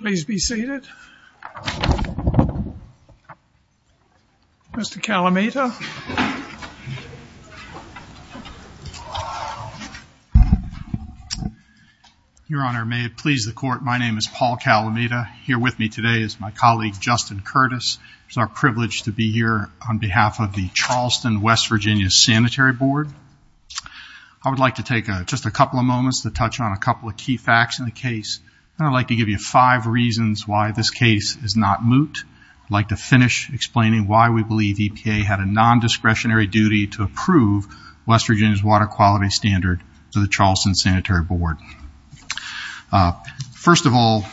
Please be seated. Mr. Kalamata. Your Honor, may it please the court, my name is Paul Kalamata. Here with me today is my colleague Justin Curtis. It's our privilege to be here on behalf of the Charleston West Virginia Sanitary Board. I would like to take just a couple of moments to touch on a couple of key facts in the case and I'd like to give you five reasons why this case is not moot. I'd like to finish explaining why we believe EPA had a non-discretionary duty to approve West Virginia's water quality standard to the Charleston Sanitary Board. First of all,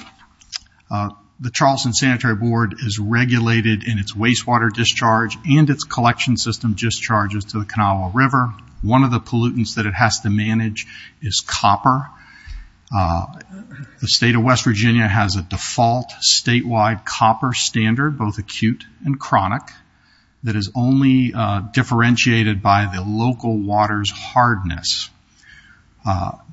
the Charleston Sanitary Board is regulated in its wastewater discharge and its collection system discharges to the Kanawha River. One of the pollutants that it has to manage is The state of West Virginia has a default statewide copper standard, both acute and chronic, that is only differentiated by the local water's hardness.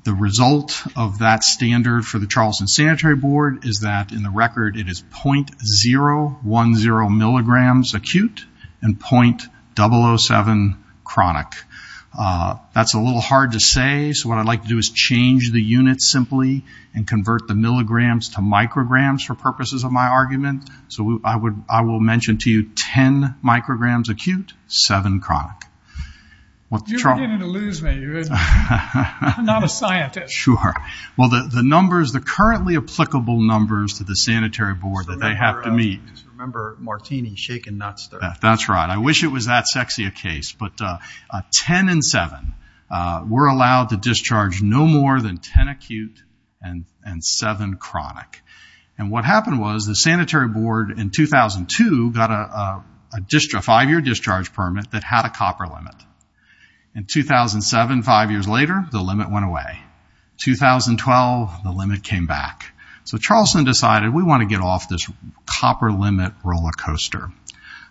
The result of that standard for the Charleston Sanitary Board is that in the record it is .010 milligrams acute and .007 chronic. That's a little hard to say so what I'd like to do is change the units simply and convert the milligrams to micrograms for purposes of my argument. So I will mention to you 10 micrograms acute, 7 chronic. You're beginning to lose me. I'm not a scientist. Sure. Well the numbers, the currently applicable numbers to the Sanitary Board that they have to meet. Remember Martini shaking nuts there. That's right. I wish it was that sexy a case but 10 and 7 were allowed to more than 10 acute and 7 chronic. And what happened was the Sanitary Board in 2002 got a 5-year discharge permit that had a copper limit. In 2007, 5 years later, the limit went away. 2012 the limit came back. So Charleston decided we want to get off this copper limit roller coaster.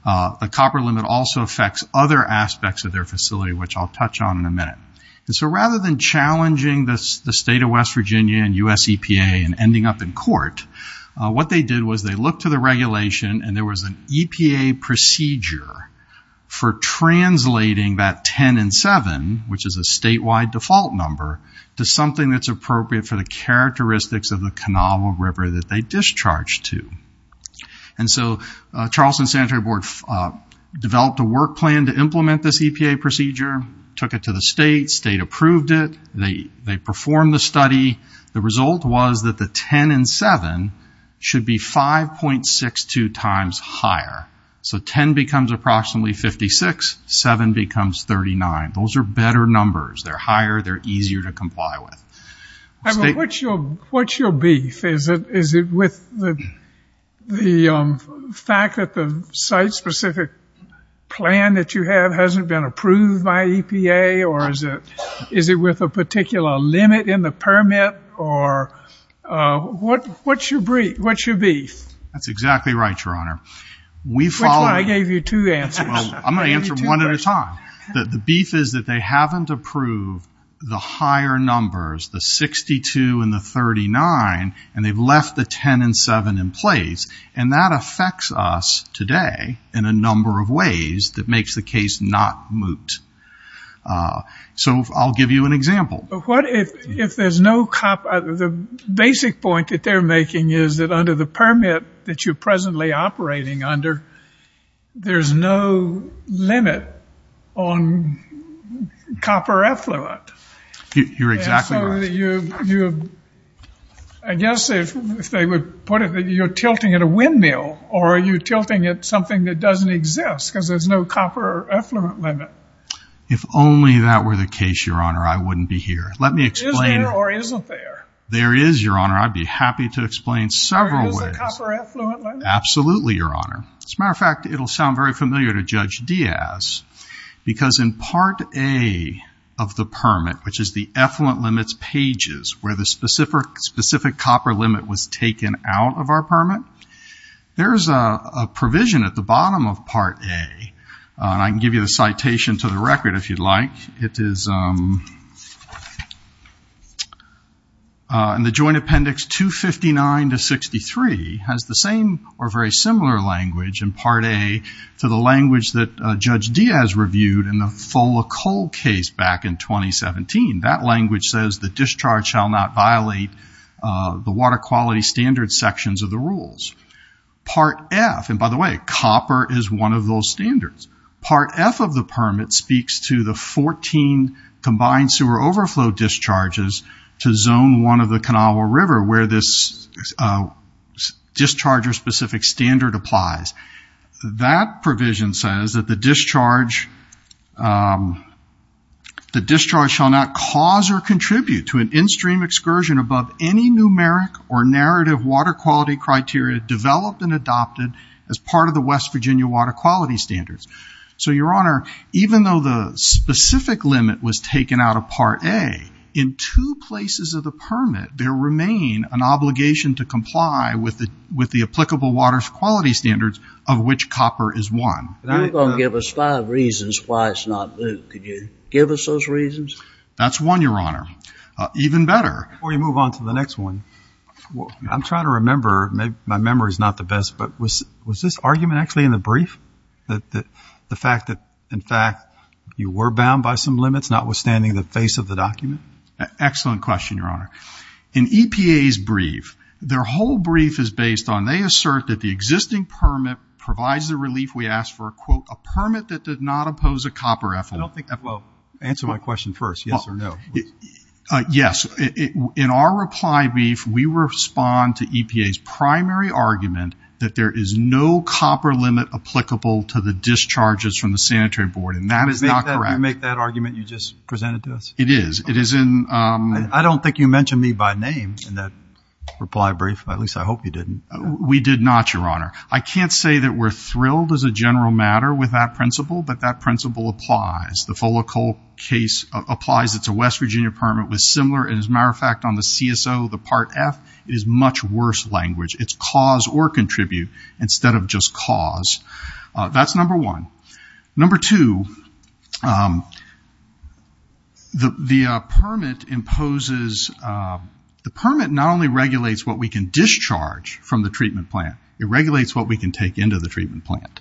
The copper limit also affects other aspects of their facility which I'll touch on in a minute. So rather than the state of West Virginia and US EPA and ending up in court, what they did was they looked to the regulation and there was an EPA procedure for translating that 10 and 7, which is a statewide default number, to something that's appropriate for the characteristics of the Canava River that they discharged to. And so Charleston Sanitary Board developed a work plan to implement this EPA procedure, took it to the state, state approved it. They performed the study. The result was that the 10 and 7 should be 5.62 times higher. So 10 becomes approximately 56, 7 becomes 39. Those are better numbers. They're higher, they're easier to comply with. What's your beef? Is it with the fact that the site-specific plan that you have hasn't been approved by EPA? Or is it with a particular limit in the permit? Or what's your beef? That's exactly right, Your Honor. Which one? I gave you two answers. I'm going to answer one at a time. The beef is that they haven't approved the higher numbers, the 62 and the 39, and they've left the 10 and 7 in place. And that affects us today in a number of ways that makes the case not moot. So I'll give you an example. But what if there's no copper? The basic point that they're making is that under the permit that you're presently operating under, there's no limit on copper effluent. You're exactly right. I guess if they would put it that you're tilting at a windmill or you're tilting at something that doesn't exist because there's no copper effluent limit. If only that were the case, Your Honor, I wouldn't be here. Is there or isn't there? There is, Your Honor. I'd be happy to explain several ways. There is a copper effluent limit? Absolutely, Your Honor. As a matter of fact, it'll sound very familiar to Judge Diaz because in Part A of the permit, which is the effluent limits pages where the specific copper limit was taken out of our permit, there's a provision at the bottom of Part A, and I can give you the citation to the record if you'd like. It is in the Joint Appendix 259 to 63 has the same or very similar language in Part A to the language that Judge Diaz reviewed in the Fola coal case back in 2017. That language says the discharge shall not violate the water quality standard sections of the rules. Part F, and by the way, copper is one of those standards. Part F of the permit speaks to the 14 combined sewer overflow discharges to Zone 1 of the Kanawha River where this discharge or specific standard applies. That provision says that the discharge shall not cause or contribute to an in-stream excursion above any numeric or narrative water quality criteria developed and adopted as part of the West Virginia water quality standards. So Your Honor, even though the specific limit was taken out of Part A, in two places of the permit, there remain an obligation to comply with the applicable water quality standards of which copper is one. You're going to give us five reasons why it's not blue. Could you give us those reasons? That's one, Your Honor. Even better. Before you move on to the next one, I'm trying to remember. Maybe my memory is not the best, but was this argument actually in the brief? That the fact that, in fact, you were bound by some limits notwithstanding the face of the document? Excellent question, Your Honor. In EPA's brief, their whole brief is based on, they assert that the existing permit provides the relief we ask for, quote, a permit that did not oppose a copper effluent. I don't think that, well, answer my question first, yes or no. Yes. In our reply brief, we respond to EPA's primary argument that there is no copper limit applicable to the discharges from the sanitary board, and that is not correct. You make that argument you just presented to us? It is. I don't think you mentioned me by name in that reply brief. At least, I hope you didn't. We did not, Your Honor. I can't say that we're thrilled as a general matter with that principle, but that principle applies. The Fola Cole case applies. It's a West Virginia permit with similar, and as a matter of fact, on the CSO, the Part F, it is much worse language. It's cause or contribute instead of just cause. That's number one. Number two, the permit not only regulates what we can discharge from the treatment plant, it regulates what we can take into the treatment plant.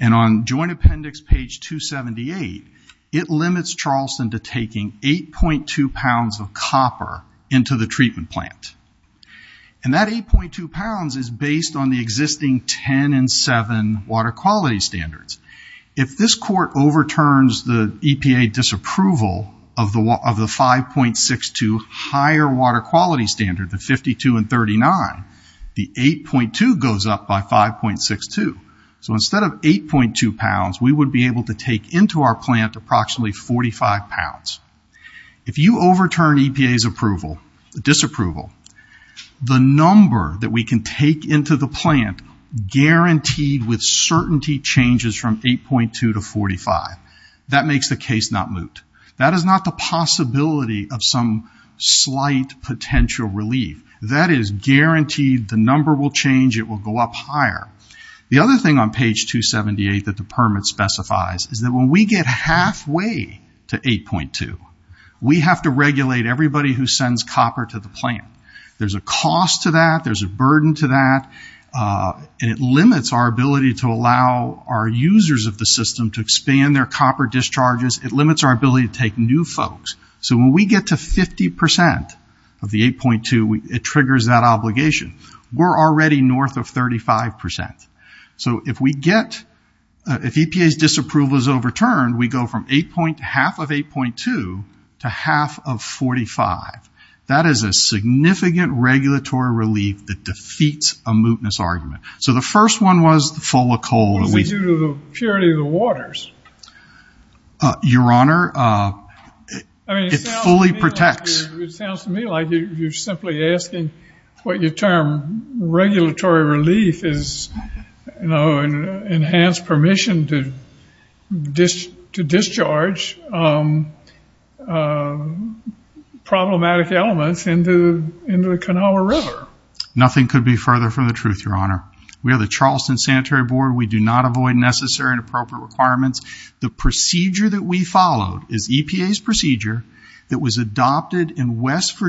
On Joint Appendix page 278, it limits Charleston to taking 8.2 pounds of copper into the treatment plant. That 8.2 pounds is based on the existing 10 and 7 water quality standards. If this court overturns the EPA disapproval of the 5.62 higher water quality standard, the 52 and 39, the 8.2 goes up by 5.62. Instead of 8.2 pounds, we would be able to take into our plant approximately 45 pounds. If you overturn EPA's approval, disapproval, the number that we can take into the plant guaranteed with certainty changes from 8.2 to 45. That makes the case not moot. That is not the possibility of some slight potential relief. That is guaranteed the number will change. It will go up higher. The other thing on page 278 that the permit specifies is that when we get halfway to 8.2, we have to regulate everybody who sends copper to the plant. There's a cost to that. There's a burden to that. It limits our ability to allow our users of the system to expand their copper discharges. It limits our ability to take new folks. When we get to 50% of the 8.2, it triggers that obligation. We're already north of 35%. So if we get, if EPA's disapproval is overturned, we go from half of 8.2 to half of 45. That is a significant regulatory relief that defeats a mootness argument. So the first one was the full of coal. It's due to the purity of the waters. Your Honor, it fully protects. It sounds to me like you're simply asking what your term regulatory relief is, you know, enhanced permission to discharge problematic elements into the Kanawha River. Nothing could be further from the truth, Your Honor. We are the Charleston Sanitary Board. We do not avoid necessary and appropriate requirements. The procedure that we followed is EPA's procedure that was adopted in West for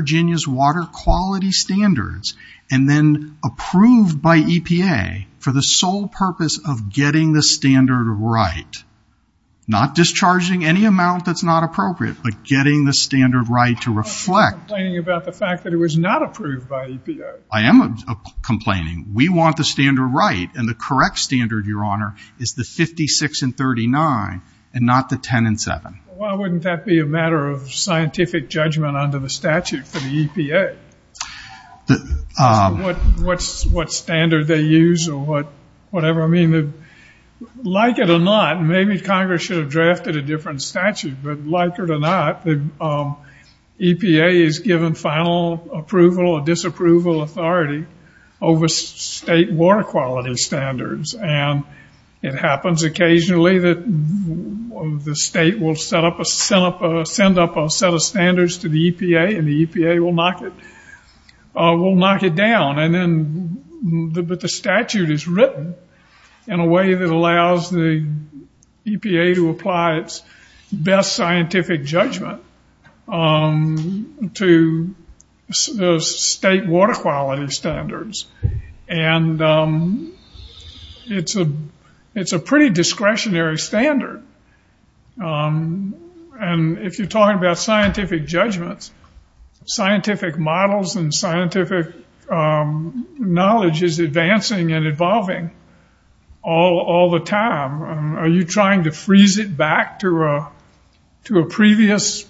the sole purpose of getting the standard right. Not discharging any amount that's not appropriate, but getting the standard right to reflect. I'm complaining about the fact that it was not approved by EPA. I am complaining. We want the standard right. And the correct standard, Your Honor, is the 56 and 39, and not the 10 and 7. Why wouldn't that be a matter of scientific judgment under the statute for the EPA? What standard they use or whatever. I mean, like it or not, maybe Congress should have drafted a different statute. But like it or not, EPA is given final approval or disapproval authority over state water quality standards. And it happens occasionally that the state will send up a set of standards to the EPA, and the EPA will knock it down. And then the statute is written in a way that allows the EPA to apply its best scientific judgment to state water quality standards. And it's a pretty discretionary standard. And if you're talking about scientific judgments, scientific models and scientific knowledge is advancing and evolving all the time. Are you trying to freeze it back to a previous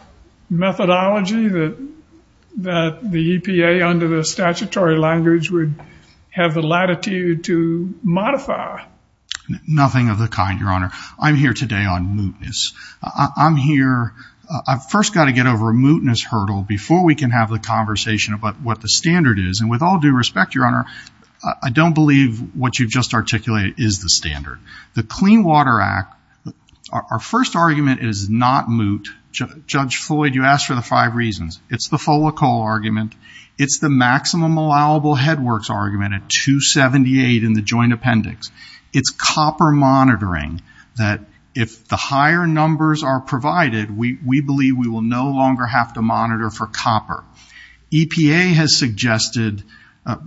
methodology that the EPA under the statutory language would have the latitude to modify? Nothing of the kind, Your Honor. I'm here today on mootness. I'm here, I've first got to get over a mootness hurdle before we can have the conversation about what the standard is. And with all due respect, Your Honor, I don't believe what you've just articulated is the standard. The Clean Water Act, our first argument is not moot. Judge Floyd, you asked for the five reasons. It's the folicol argument. It's the maximum allowable headworks argument at 278 in the joint appendix. It's copper monitoring that if the higher numbers are provided, we believe we will no longer have to monitor for copper. EPA has suggested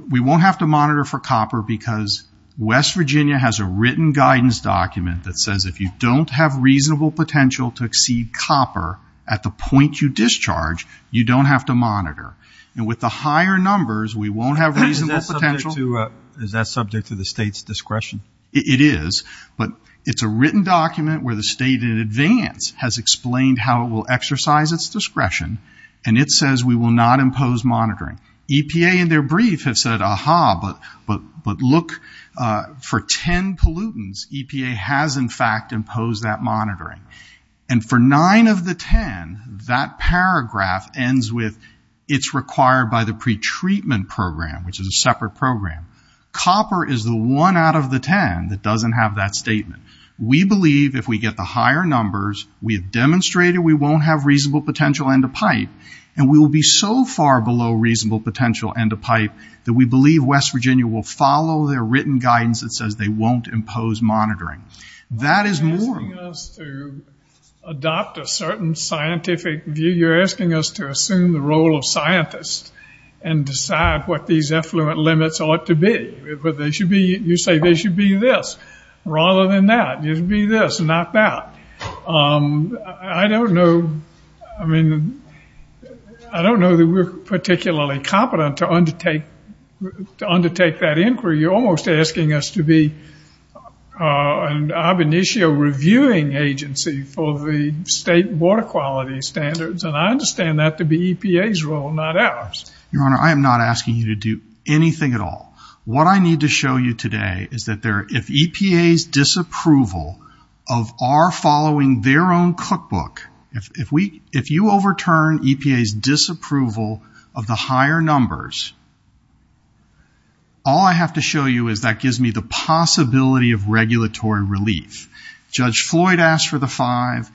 we won't have to monitor for copper because West Virginia has a written guidance document that says if you don't have reasonable potential to exceed copper at the point you discharge, you don't have to monitor. And with the higher numbers, we won't have reasonable potential. Is that subject to the state's discretion? It is, but it's a written document where the state in advance has explained how it will exercise its discretion. And it says we will not impose monitoring. EPA in their brief has said, aha, but look, for 10 pollutants, EPA has, in fact, imposed that monitoring. And for nine of the 10, that paragraph ends with it's required by the Copper is the one out of the 10 that doesn't have that statement. We believe if we get the higher numbers, we have demonstrated we won't have reasonable potential end of pipe, and we will be so far below reasonable potential end of pipe that we believe West Virginia will follow their written guidance that says they won't impose monitoring. That is more. You're asking us to adopt a certain scientific view. You're asking us to assume the role of scientists and decide what these affluent limits ought to be, but they should be, you say they should be this rather than that, it should be this, not that. I don't know, I mean, I don't know that we're particularly competent to undertake, to undertake that inquiry. You're almost asking us to be an ab initio reviewing agency for the state water quality standards, and I understand that to be EPA's role, not ours. Your Honor, I am not asking you to do anything at all. What I need to show you today is that if EPA's disapproval of our following their own cookbook, if you overturn EPA's disapproval of the higher numbers, all I have to show you is that gives me the possibility of regulatory relief. Judge Floyd asked for the five,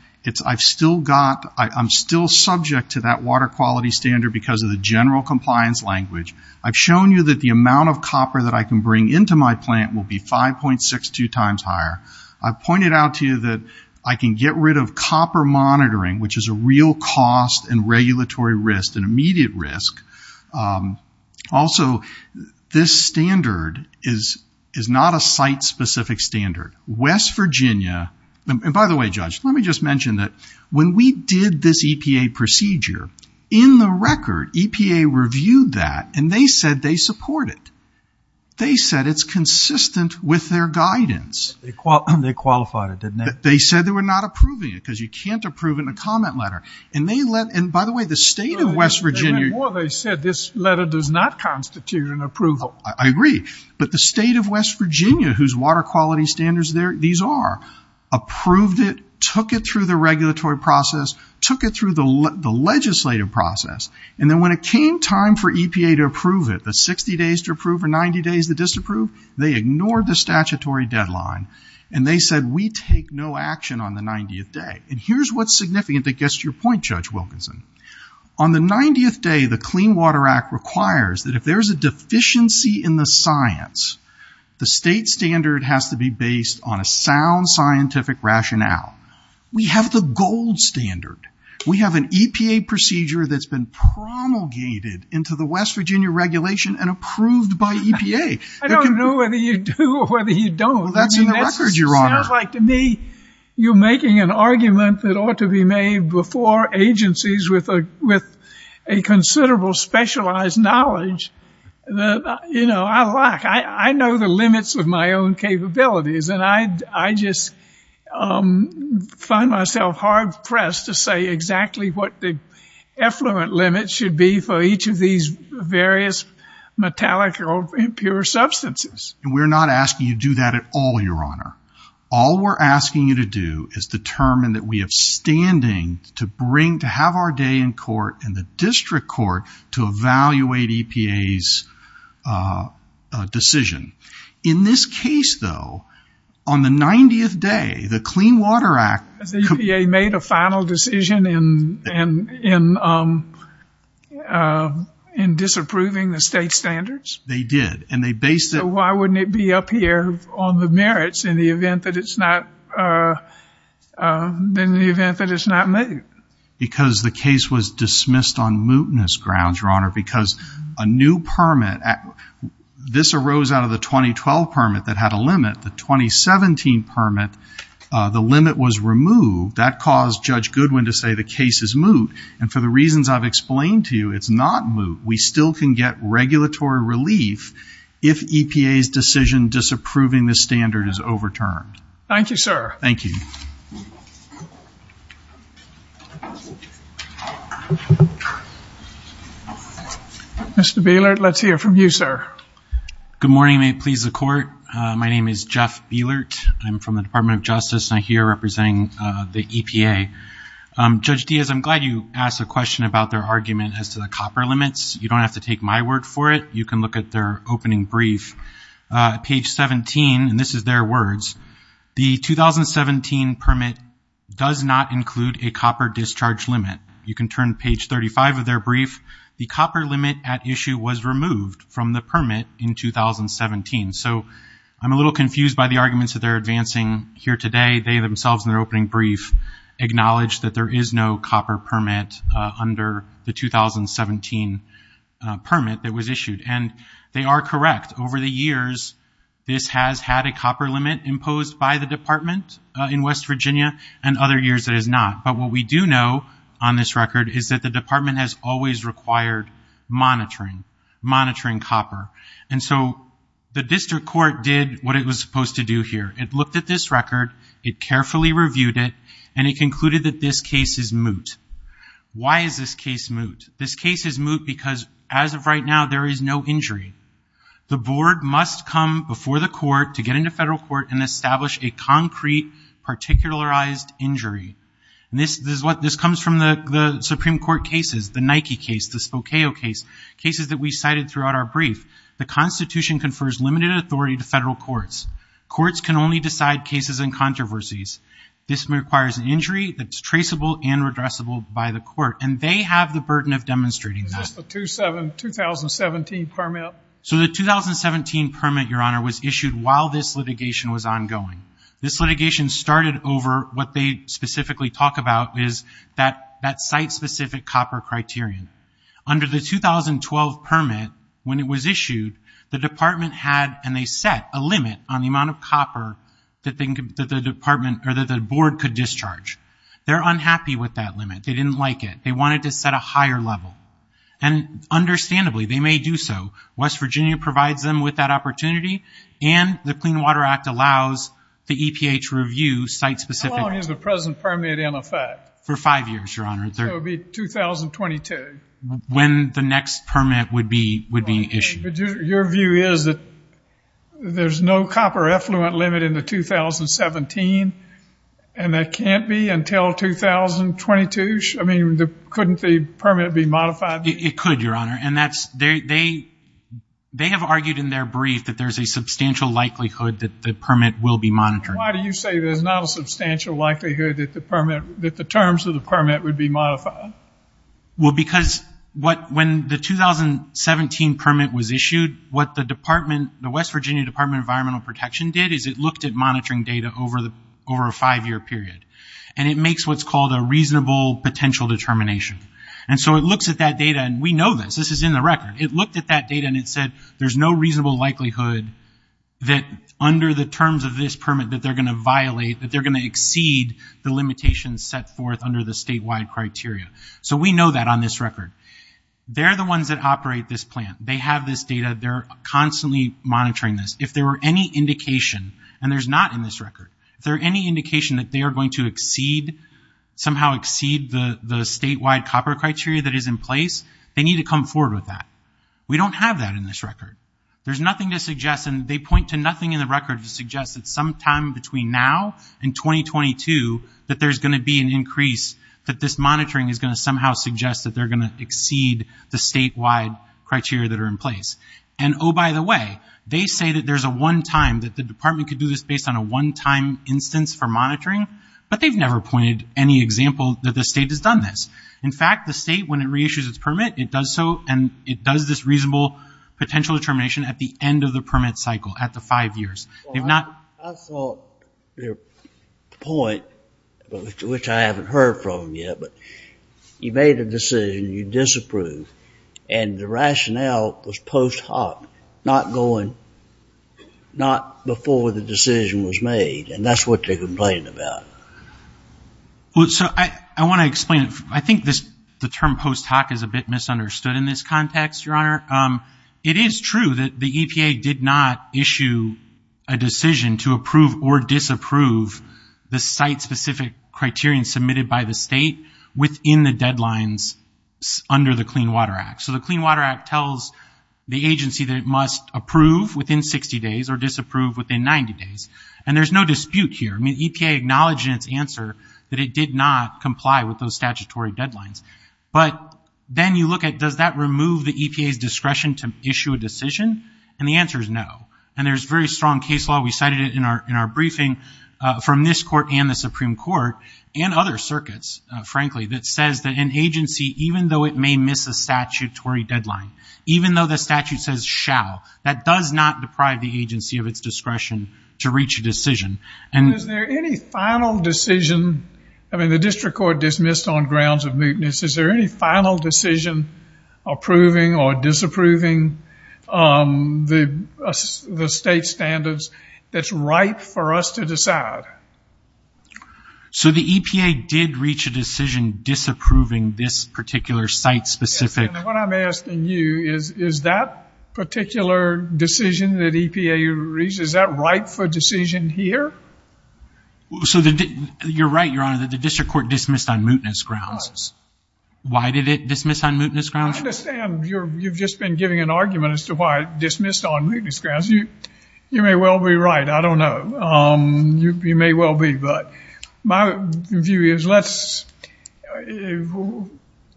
I'm still subject to that water quality standard because of the general compliance language. I've shown you that the amount of copper that I can bring into my plant will be 5.62 times higher. I've pointed out to you that I can get rid of copper monitoring, which is a real cost and regulatory risk, an immediate risk. Also, this standard is not a site-specific standard. West Virginia, and by the way, Judge, let me just mention that when we did this for the record, EPA reviewed that, and they said they support it. They said it's consistent with their guidance. They qualified it, didn't they? They said they were not approving it because you can't approve it in a comment letter. And they let, and by the way, the state of West Virginia. They said this letter does not constitute an approval. I agree, but the state of West Virginia, whose water quality standards these are, approved it, took it through the regulatory process, took it through the legislative process, and then when it came time for EPA to approve it, the 60 days to approve or 90 days to disapprove, they ignored the statutory deadline, and they said, we take no action on the 90th day. And here's what's significant that gets to your point, Judge Wilkinson. On the 90th day, the Clean Water Act requires that if there's a deficiency in the science, the state standard has to be based on a sound scientific rationale. We have the gold standard. We have an EPA procedure that's been promulgated into the West Virginia regulation and approved by EPA. I don't know whether you do or whether you don't. Well, that's in the record, Your Honor. It sounds like to me, you're making an argument that ought to be made before agencies with a considerable specialized knowledge that, you know, I lack. I know the limits of my own capabilities, and I just find myself hard-pressed to say exactly what the effluent limit should be for each of these various metallic or impure substances. We're not asking you to do that at all, Your Honor. All we're asking you to do is determine that we have standing to bring, to have our day in court and the district court to evaluate EPA's decision. In this case, though, on the 90th day, the Clean Water Act... The decision in disapproving the state standards? They did, and they based it... So why wouldn't it be up here on the merits in the event that it's not moot? Because the case was dismissed on mootness grounds, Your Honor, because a new permit, this arose out of the 2012 permit that had a limit. The 2017 permit, the limit was removed. That caused Judge Goodwin to say the case is moot, and for the reasons I've explained to you, it's not moot. We still can get regulatory relief if EPA's decision disapproving the standard is overturned. Thank you, sir. Thank you. Mr. Bielert, let's hear from you, sir. Good morning. May it please the Court. My name is Jeff Bielert. I'm from the Department of Justice, and I'm here representing the EPA. Judge Diaz, I'm glad you asked a question about their argument as to the copper limits. You don't have to take my word for it. You can look at their opening brief. Page 17, and this is their words, the 2017 permit does not include a copper discharge limit. You can turn to page 35 of their brief. The copper limit at issue was removed from the permit in 2017. So I'm a little confused by the arguments that they're advancing here today. They themselves, in their opening brief, acknowledged that there is no copper permit under the 2017 permit that was issued, and they are correct. Over the years, this has had a copper limit imposed by the Department in West Virginia, and other years it has not. But what we do know on this record is that the Department has always required monitoring, monitoring copper. And so the district court did what it was supposed to do here. It looked at this record, it carefully reviewed it, and it concluded that this case is moot. Why is this case moot? This case is moot because, as of right now, there is no injury. The board must come before the court to get into federal court and establish a concrete, particularized injury. This comes from the Supreme Court cases, the Nike case, the Spokane case, cases that we cited throughout our brief. The Constitution confers limited authority to federal courts. Courts can only decide cases and controversies. This requires an injury that's traceable and redressable by the court, and they have the burden of demonstrating that. Is this the 2017 permit? So the 2017 permit, Your Honor, was issued while this litigation was ongoing. This litigation started over what they specifically talk about is that site specific copper criterion. Under the 2012 permit, when it was issued, the department had, and they set, a limit on the amount of copper that the board could discharge. They're unhappy with that limit. They didn't like it. They wanted to set a higher level. And understandably, they may do so. West Virginia provides them with that opportunity, and the Clean Water Act allows the EPA to review site-specific- How long is the present permit in effect? For five years, Your Honor. So it would be 2022. When the next permit would be issued. But your view is that there's no copper effluent limit in the 2017, and that can't be until 2022? I mean, couldn't the permit be modified? It could, Your Honor. And that's, they have argued in their brief that there's a substantial likelihood that the permit will be monitored. Why do you say there's not a substantial likelihood that the permit, that the permit will be modified? Well, because what, when the 2017 permit was issued, what the department, the West Virginia Department of Environmental Protection did is it looked at monitoring data over the, over a five-year period. And it makes what's called a reasonable potential determination. And so it looks at that data, and we know this. This is in the record. It looked at that data and it said, there's no reasonable likelihood that under the terms of this permit that they're going to violate, that they're going to exceed the limitations set forth under the statewide criteria. So we know that on this record. They're the ones that operate this plant. They have this data. They're constantly monitoring this. If there were any indication, and there's not in this record, if there are any indication that they are going to exceed, somehow exceed the, the statewide copper criteria that is in place, they need to come forward with that. We don't have that in this record. There's nothing to suggest, and they point to nothing in the record to suggest that sometime between now and 2022, that there's going to be an increase, that this monitoring is going to somehow suggest that they're going to exceed the statewide criteria that are in place. And, oh, by the way, they say that there's a one time that the department could do this based on a one-time instance for monitoring, but they've never pointed any example that the state has done this. In fact, the state, when it reissues its permit, it does so, and it does this reasonable potential determination at the end of the permit cycle, at the five years. If not... I thought their point, which I haven't heard from yet, but you made a decision, you disapprove, and the rationale was post hoc, not going, not before the decision was made, and that's what they're complaining about. Well, so I, I want to explain, I think this, the term post hoc is a bit misunderstood in this context, Your Honor. It is true that the EPA did not issue a decision to approve or disapprove the site-specific criterion submitted by the state within the deadlines under the Clean Water Act, so the Clean Water Act tells the agency that it must approve within 60 days or disapprove within 90 days, and there's no dispute here. I mean, EPA acknowledged in its answer that it did not comply with those statutory deadlines, but then you look at, does that remove the EPA's discretion to issue a decision, and the answer is no, and there's very strong case law, we cited it in our, in our briefing from this court and the Supreme Court and other circuits, frankly, that says that an agency, even though it may miss a statutory deadline, even though the statute says shall, that does not deprive the agency of its discretion to reach a decision, and... And is there any final decision, I mean, the district court dismissed on grounds of mootness, is there any final decision approving or disapproving the state standards that's ripe for us to decide? So the EPA did reach a decision disapproving this particular site-specific... Yes, and what I'm asking you is, is that particular decision that EPA reached, is that ripe for decision here? So the, you're right, Your Honor, the district court dismissed on mootness grounds. Why did it dismiss on mootness grounds? I understand you're, you've just been giving an argument as to why it dismissed on mootness grounds, you, you may well be right, I don't know, you may well be, but my view is let's,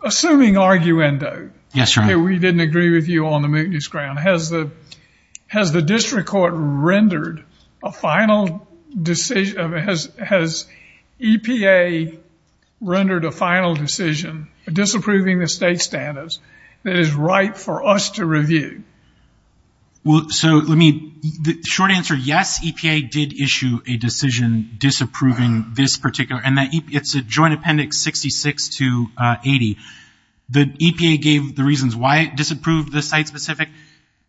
assuming arguendo, that we didn't agree with you on the mootness ground, has the, has the district court rendered a final decision, has EPA rendered a final decision disapproving the state standards that is ripe for us to review? Well, so let me, the short answer, yes, EPA did issue a decision disapproving this particular, and that it's a joint appendix 66 to 80, the EPA gave the reasons why it disapproved the site-specific,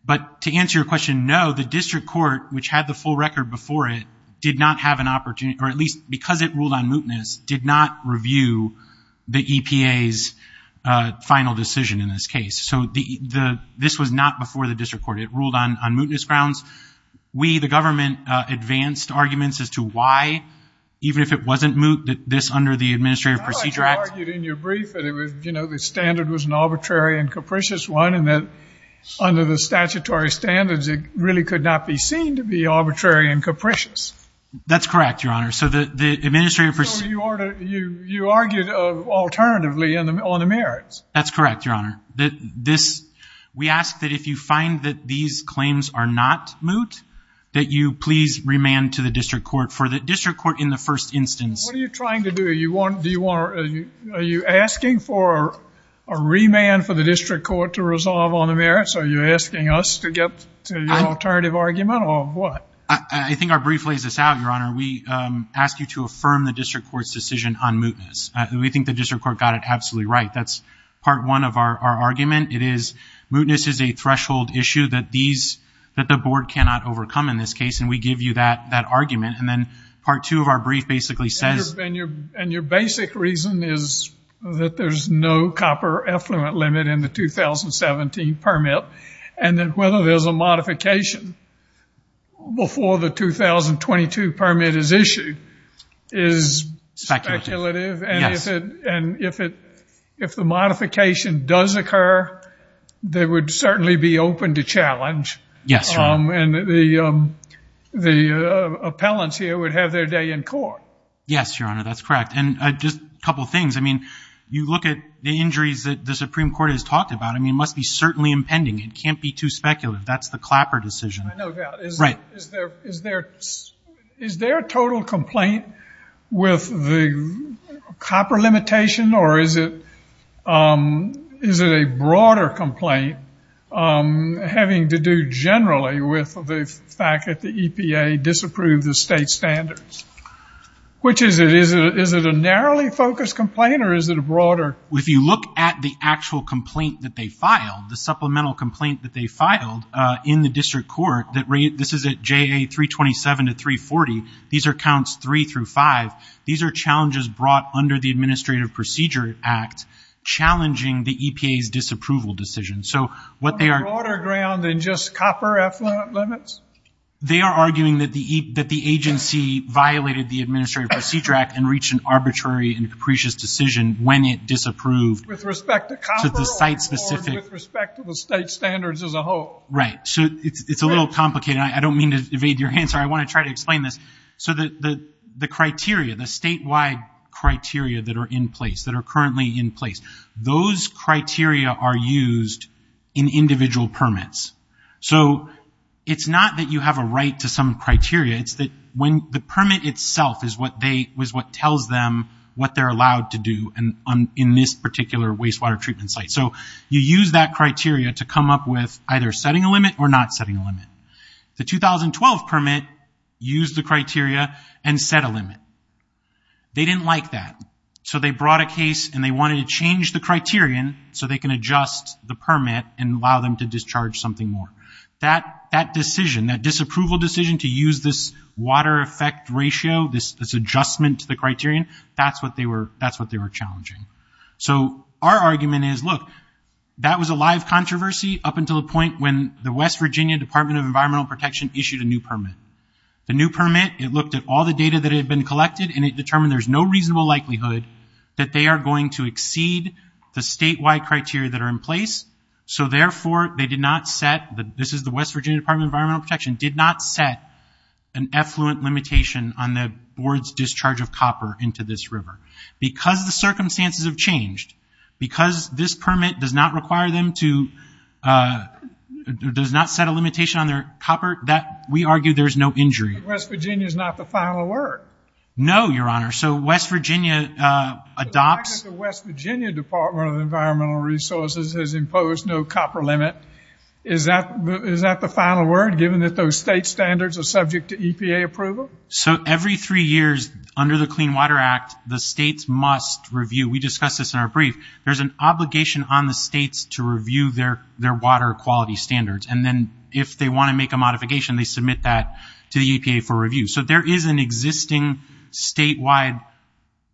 but to answer your question, no, the district court, which had the full record before it, did not have an opportunity, or at least because it ruled on mootness, did not review the EPA's final decision in this case. So the, the, this was not before the district court, it ruled on, on mootness grounds, we, the government, advanced arguments as to why, even if it wasn't moot, that this under the Administrative Procedure Act. I thought you argued in your brief that it was, you know, the standard was an arbitrary and capricious one, and that under the statutory standards, it really could not be seen to be arbitrary and capricious. That's correct, Your Honor. So the, the Administrative Procedure Act... So you argued alternatively on the merits. That's correct, Your Honor. That this, we ask that if you find that these claims are not moot, that you please remand to the district court, for the district court in the first instance. What are you trying to do? You want, do you want, are you asking for a remand for the district court to resolve on the merits? Are you asking us to get to your alternative argument, or what? I think our brief lays this out, Your Honor. We ask you to affirm the district court's decision on mootness. We think the district court got it absolutely right. That's part one of our argument. It is, mootness is a threshold issue that these, that the board cannot overcome in this case, and we give you that, that argument, and then part two of our brief basically says... And your, and your basic reason is that there's no copper effluent limit in the 2017 permit. And that whether there's a modification before the 2022 permit is issued is speculative, and if it, and if it, if the modification does occur, they would certainly be open to challenge, and the, the appellants here would have their day in court. Yes, Your Honor. That's correct. And just a couple of things. I mean, you look at the injuries that the Supreme Court has talked about. I mean, it must be certainly impending. It can't be too speculative. That's the Clapper decision. I know, yeah. Is there, is there, is there a total complaint with the copper limitation, or is it, is it a broader complaint having to do generally with the fact that the EPA disapproved the state standards, which is it, is it, is it a narrowly focused complaint or is it a broader... If you look at the actual complaint that they filed, the supplemental complaint that they filed in the district court, that rate, this is at JA 327 to 340, these are counts three through five, these are challenges brought under the Administrative Procedure Act, challenging the EPA's disapproval decision. So what they are... On a broader ground than just copper effluent limits? They are arguing that the, that the agency violated the Administrative Procedure Act and reached an arbitrary and capricious decision when it disapproved... With respect to copper or with respect to the state standards as a whole? Right. So it's, it's a little complicated. I don't mean to evade your answer. I want to try to explain this. So the, the, the criteria, the statewide criteria that are in place, that are currently in place, those criteria are used in individual permits. So it's not that you have a right to some criteria. It's that when the permit itself is what they, was what tells them what they're allowed to do and on, in this particular wastewater treatment site. So you use that criteria to come up with either setting a limit or not setting a limit. The 2012 permit used the criteria and set a limit. They didn't like that. So they brought a case and they wanted to change the criterion so they can adjust the permit and allow them to discharge something more. That, that decision, that disapproval decision to use this water effect ratio, this, this adjustment to the criterion, that's what they were, that's what they were challenging. So our argument is, look, that was a live controversy up until the point when the West Virginia Department of Environmental Protection issued a new permit. The new permit, it looked at all the data that had been collected and it determined there's no reasonable likelihood that they are going to exceed the statewide criteria that are in place. So therefore they did not set the, this is the West Virginia Department Environmental Protection, did not set an effluent limitation on the board's discharge of copper into this river. Because the circumstances have changed, because this permit does not require them to, does not set a limitation on their copper, that we argue there's no injury. West Virginia is not the final word. No, your honor. So West Virginia adopts. The West Virginia Department of Environmental Resources has imposed no copper limit. Is that, is that the final word given that those state standards are subject to EPA approval? So every three years under the Clean Water Act, the states must review. We discussed this in our brief. There's an obligation on the states to review their, their water quality standards, and then if they want to make a modification, they submit that to the EPA for review. So there is an existing statewide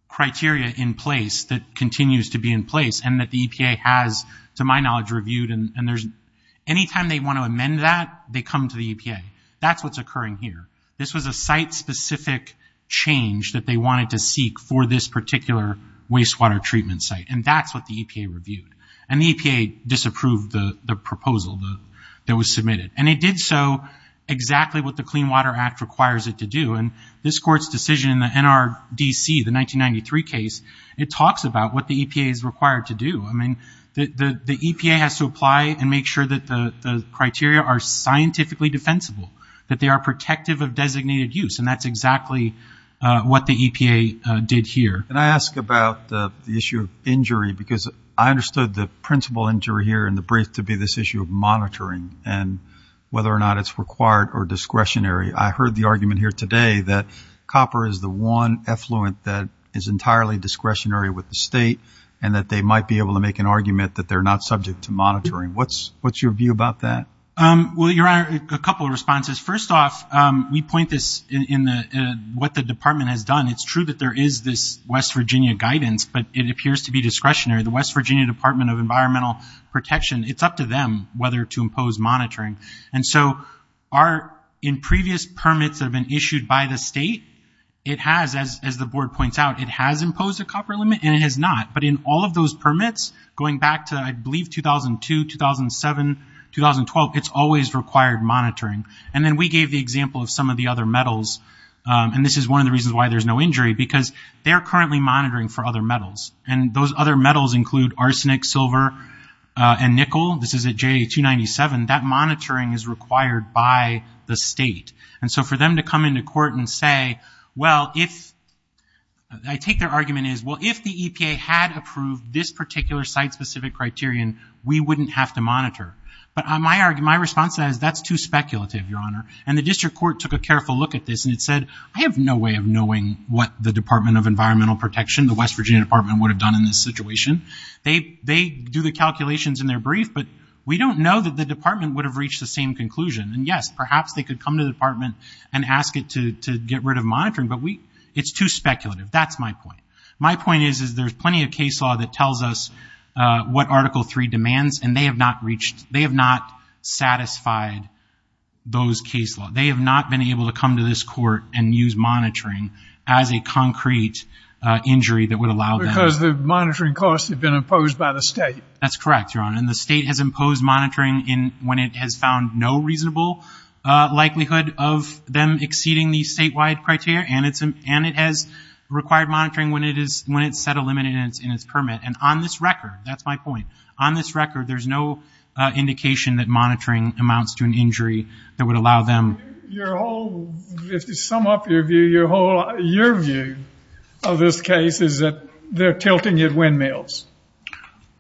criteria in place that continues to be in place and that the EPA has, to my knowledge, reviewed, and there's, anytime they want to amend that, they come to the EPA. That's what's occurring here. This was a site-specific change that they wanted to seek for this particular wastewater treatment site. And that's what the EPA reviewed. And the EPA disapproved the proposal that was submitted. And it did so exactly what the Clean Water Act requires it to do. And this court's decision in the NRDC, the 1993 case, it talks about what the EPA is required to do. I mean, the, the, the EPA has to apply and make sure that the criteria are scientifically defensible, that they are protective of designated use. And that's exactly what the EPA did here. Can I ask about the issue of injury? Because I understood the principal injury here in the brief to be this issue of monitoring and whether or not it's required or discretionary. I heard the argument here today that copper is the one effluent that is and that they might be able to make an argument that they're not subject to monitoring. What's, what's your view about that? Well, Your Honor, a couple of responses. First off, we point this in the, what the department has done. It's true that there is this West Virginia guidance, but it appears to be discretionary. The West Virginia Department of Environmental Protection, it's up to them whether to impose monitoring. And so our, in previous permits that have been issued by the state, it has, as, as the board points out, it has imposed a copper limit and it has not. But in all of those permits, going back to, I believe, 2002, 2007, 2012, it's always required monitoring. And then we gave the example of some of the other metals. And this is one of the reasons why there's no injury because they're currently monitoring for other metals. And those other metals include arsenic, silver, and nickel. This is a J297. That monitoring is required by the state. And so for them to come into court and say, well, if I take their argument is, well, if the EPA had approved this particular site-specific criterion, we wouldn't have to monitor. But my argument, my response to that is that's too speculative, Your Honor. And the district court took a careful look at this and it said, I have no way of knowing what the Department of Environmental Protection, the West Virginia Department would have done in this situation. They, they do the calculations in their brief, but we don't know that the department would have reached the same conclusion and yes, perhaps they could come to the department and ask it to, to get rid of monitoring, but we, it's too speculative. That's my point. My point is, is there's plenty of case law that tells us what article three demands and they have not reached, they have not satisfied those case law. They have not been able to come to this court and use monitoring as a concrete injury that would allow them. Because the monitoring costs have been imposed by the state. That's correct, Your Honor. And the state has imposed monitoring in, when it has found no reasonable likelihood of them exceeding the statewide criteria. And it's, and it has required monitoring when it is, when it's set a limit and it's in its permit. And on this record, that's my point. On this record, there's no indication that monitoring amounts to an injury that would allow them. Your whole, if you sum up your view, your whole, your view of this case is that they're tilting at windmills.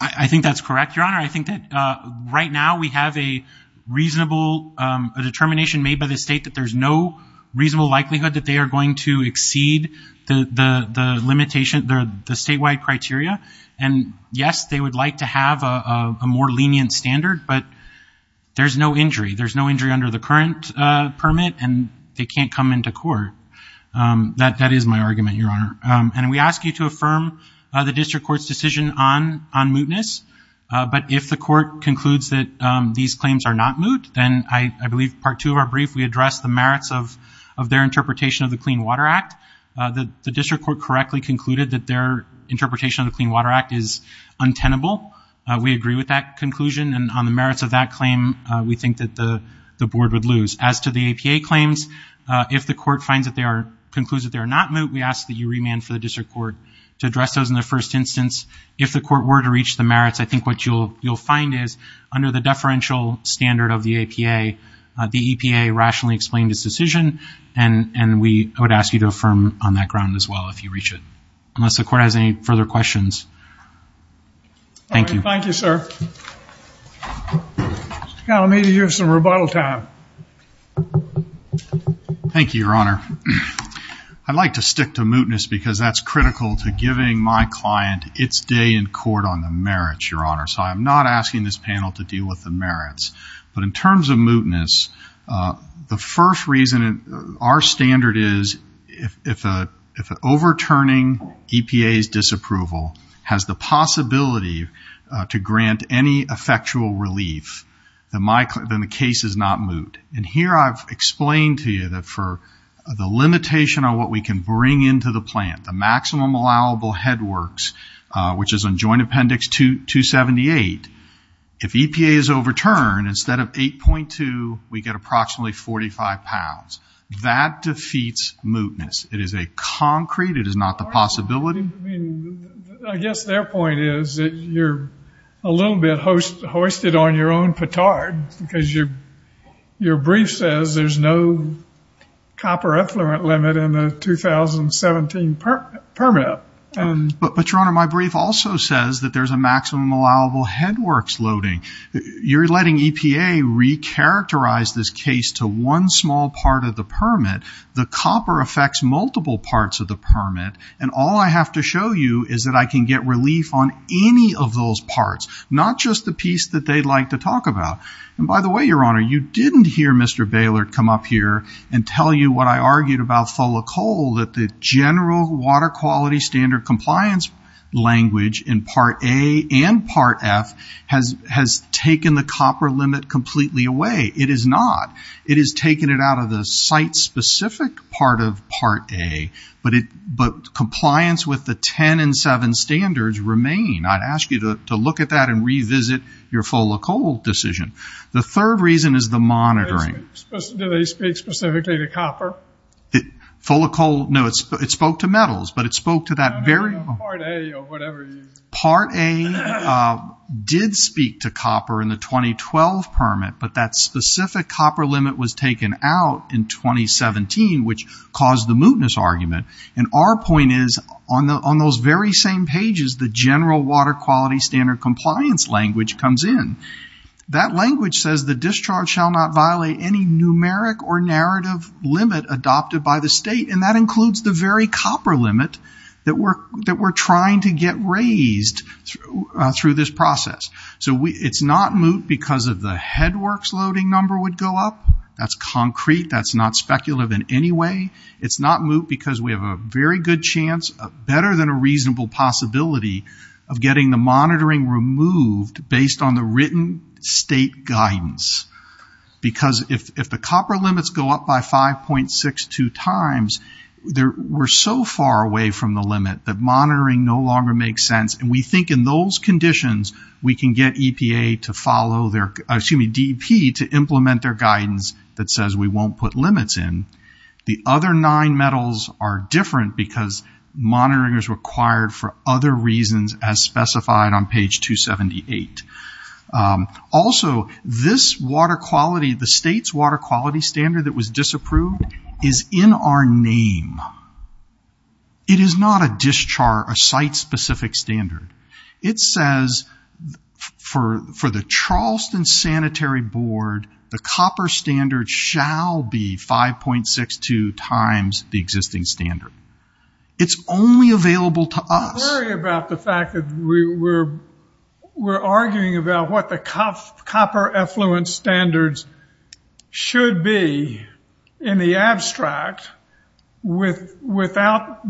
I think that's correct, Your Honor. I think that right now we have a reasonable, a determination made by the state that there's no reasonable likelihood that they are going to exceed the, the, the limitation, the statewide criteria. And yes, they would like to have a more lenient standard, but there's no injury. There's no injury under the current permit and they can't come into court. That, that is my argument, Your Honor. And we ask you to affirm the district court's decision on, on mootness. But if the court concludes that these claims are not moot, then I think you should address the merits of, of their interpretation of the Clean Water Act. The district court correctly concluded that their interpretation of the Clean Water Act is untenable. We agree with that conclusion and on the merits of that claim, we think that the, the board would lose. As to the APA claims, if the court finds that they are, concludes that they are not moot, we ask that you remand for the district court to address those in the first instance, if the court were to reach the merits, I think what you'll, you'll find is under the deferential standard of the APA the EPA rationally explained its decision. And, and we would ask you to affirm on that ground as well, if you reach it. Unless the court has any further questions. Thank you. Thank you, sir. Now, maybe you have some rebuttal time. Thank you, Your Honor. I'd like to stick to mootness because that's critical to giving my client its day in court on the merits, Your Honor. So I'm not asking this panel to deal with the merits, but in terms of mootness, the first reason, our standard is if, if a, if an overturning EPA's disapproval has the possibility to grant any effectual relief, then my, then the case is not moot. And here I've explained to you that for the limitation on what we can bring into the plan, the maximum allowable head works, which is on joint appendix 278, if EPA is overturned, instead of 8.2, we get approximately 45 pounds. That defeats mootness. It is a concrete, it is not the possibility. I guess their point is that you're a little bit hoisted on your own petard because your, your brief says there's no copper effluent limit in the 2017 permit. But, but Your Honor, my brief also says that there's a maximum allowable head works loading. You're letting EPA recharacterize this case to one small part of the permit. The copper affects multiple parts of the permit. And all I have to show you is that I can get relief on any of those parts, not just the piece that they'd like to talk about. And by the way, Your Honor, you didn't hear Mr. Baylor come up here and tell you what I argued about full of coal, that the general water quality standard compliance language in part A and part F has, has taken the copper limit completely away. It is not. It is taken it out of the site specific part of part A, but it, but compliance with the 10 and seven standards remain. I'd ask you to look at that and revisit your full of coal decision. The third reason is the monitoring. Do they speak specifically to copper? Full of coal? No, it's, it spoke to metals, but it spoke to that very part A did speak to copper in the 2012 permit, but that specific copper limit was taken out in 2017, which caused the mootness argument. And our point is on the, on those very same pages, the general water quality standard compliance language comes in. That language says the discharge shall not violate any numeric or narrative limit adopted by the state. And that includes the very copper limit that we're, that we're trying to get raised through, through this process. So we, it's not moot because of the headworks loading number would go up. That's concrete. That's not speculative in any way. It's not moot because we have a very good chance, better than a reasonable possibility of getting the monitoring removed based on the written state guidance, because if, if the copper limits go up by 5.62 times, there, we're so far away from the limit that monitoring no longer makes sense. And we think in those conditions, we can get EPA to follow their, excuse me, DEP to implement their guidance that says we won't put limits in. The other nine metals are different because monitoring is required for other reasons as specified on page 278. Also this water quality, the state's water quality standard that was disapproved is in our name. It is not a discharge, a site specific standard. It says for, for the Charleston sanitary board, the copper standard shall be 5.62 times the existing standard. It's only available to us. I'm worried about the fact that we're, we're arguing about what the copper effluent standards should be in the abstract with, without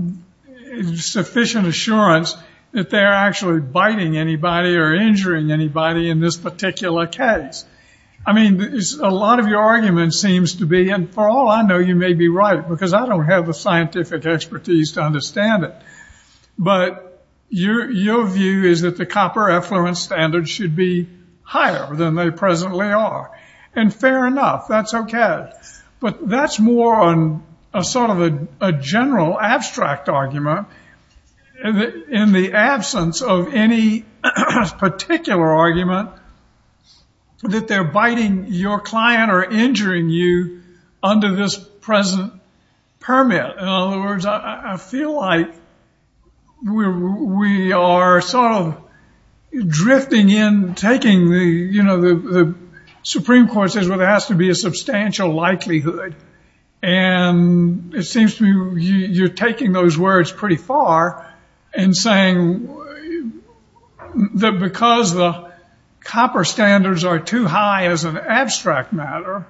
sufficient assurance that they're actually biting anybody or injuring anybody in this particular case. I mean, a lot of your argument seems to be, and for all I know, you may be right, because I don't have the scientific expertise to understand it. But your, your view is that the copper effluent standards should be higher than they presently are. And fair enough, that's okay. But that's more on a sort of a general abstract argument in the absence of any particular argument that they're biting your client or injuring you under this present permit. In other words, I feel like we're, we are sort of drifting in, taking the, you know, the Supreme Court says, well, there has to be a substantial likelihood. And it seems to me you're taking those words pretty far and saying that because the copper standards are too high as an abstract matter,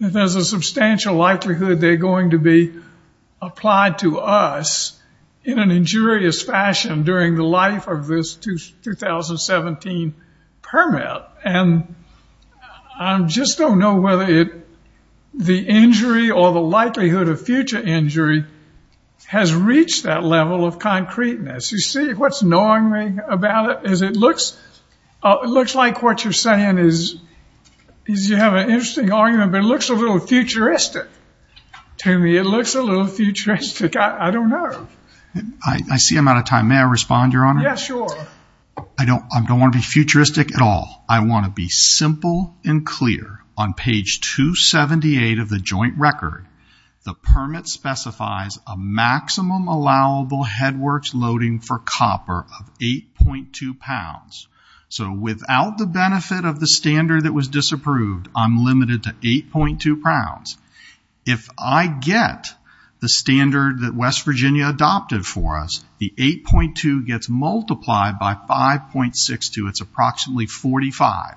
that there's a high likelihood of injury applied to us in an injurious fashion during the life of this 2017 permit, and I just don't know whether the injury or the likelihood of future injury has reached that level of concreteness. You see, what's annoying me about it is it looks, it looks like what you're saying is, is you have an interesting argument, but it looks a little futuristic to me. It looks a little futuristic. I don't know. I see I'm out of time. May I respond, Your Honor? Yeah, sure. I don't, I don't want to be futuristic at all. I want to be simple and clear. On page 278 of the joint record, the permit specifies a maximum allowable headworks loading for copper of 8.2 pounds. So without the benefit of the standard that was disapproved, I'm limited to 8.2 pounds. If I get the standard that West Virginia adopted for us, the 8.2 gets multiplied by 5.62. It's approximately 45.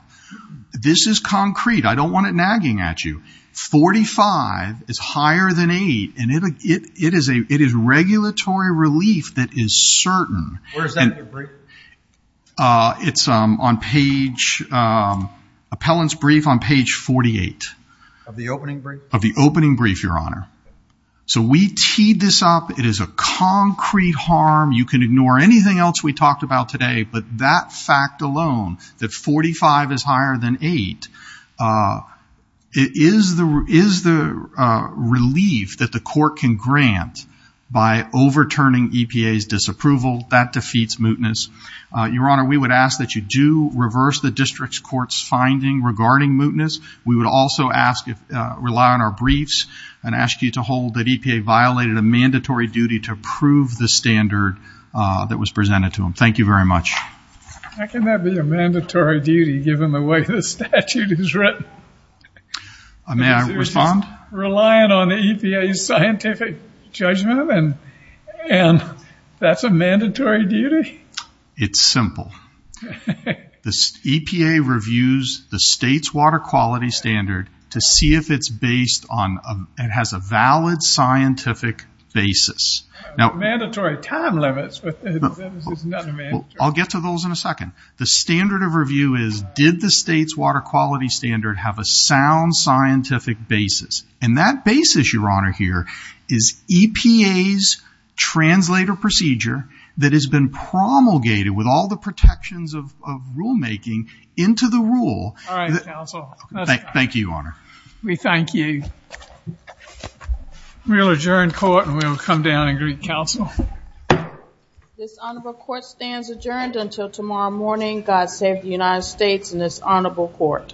This is concrete. I don't want it nagging at you. 45 is higher than 8, and it is regulatory relief that is certain. Where is that in your brief? It's on page, appellant's brief on page 48. Of the opening brief? Of the opening brief, Your Honor. So we teed this up. It is a concrete harm. You can ignore anything else we talked about today, but that fact alone, that 45 is higher than 8, is the relief that the court can grant by overturning EPA's disapproval. That defeats mootness. Your Honor, we would ask that you do reverse the district's court's finding regarding mootness. We would also ask, rely on our briefs and ask you to hold that EPA violated a mandatory duty to approve the standard that was presented to them. Thank you very much. How can that be a mandatory duty, given the way the statute is written? May I respond? Relying on EPA's scientific judgment, and that's a mandatory duty? It's simple. The EPA reviews the state's water quality standard to see if it's based on, it has a valid scientific basis. Now, mandatory time limits, but it's not a mandatory. I'll get to those in a second. The standard of review is, did the state's water quality standard have a sound scientific basis? And that basis, Your Honor, here is EPA's translator procedure that has been promulgated with all the protections of rulemaking into the rule. All right, counsel. Thank you, Your Honor. We thank you. We'll adjourn court and we'll come down and greet counsel. This honorable court stands adjourned until tomorrow morning. God save the United States and this honorable court.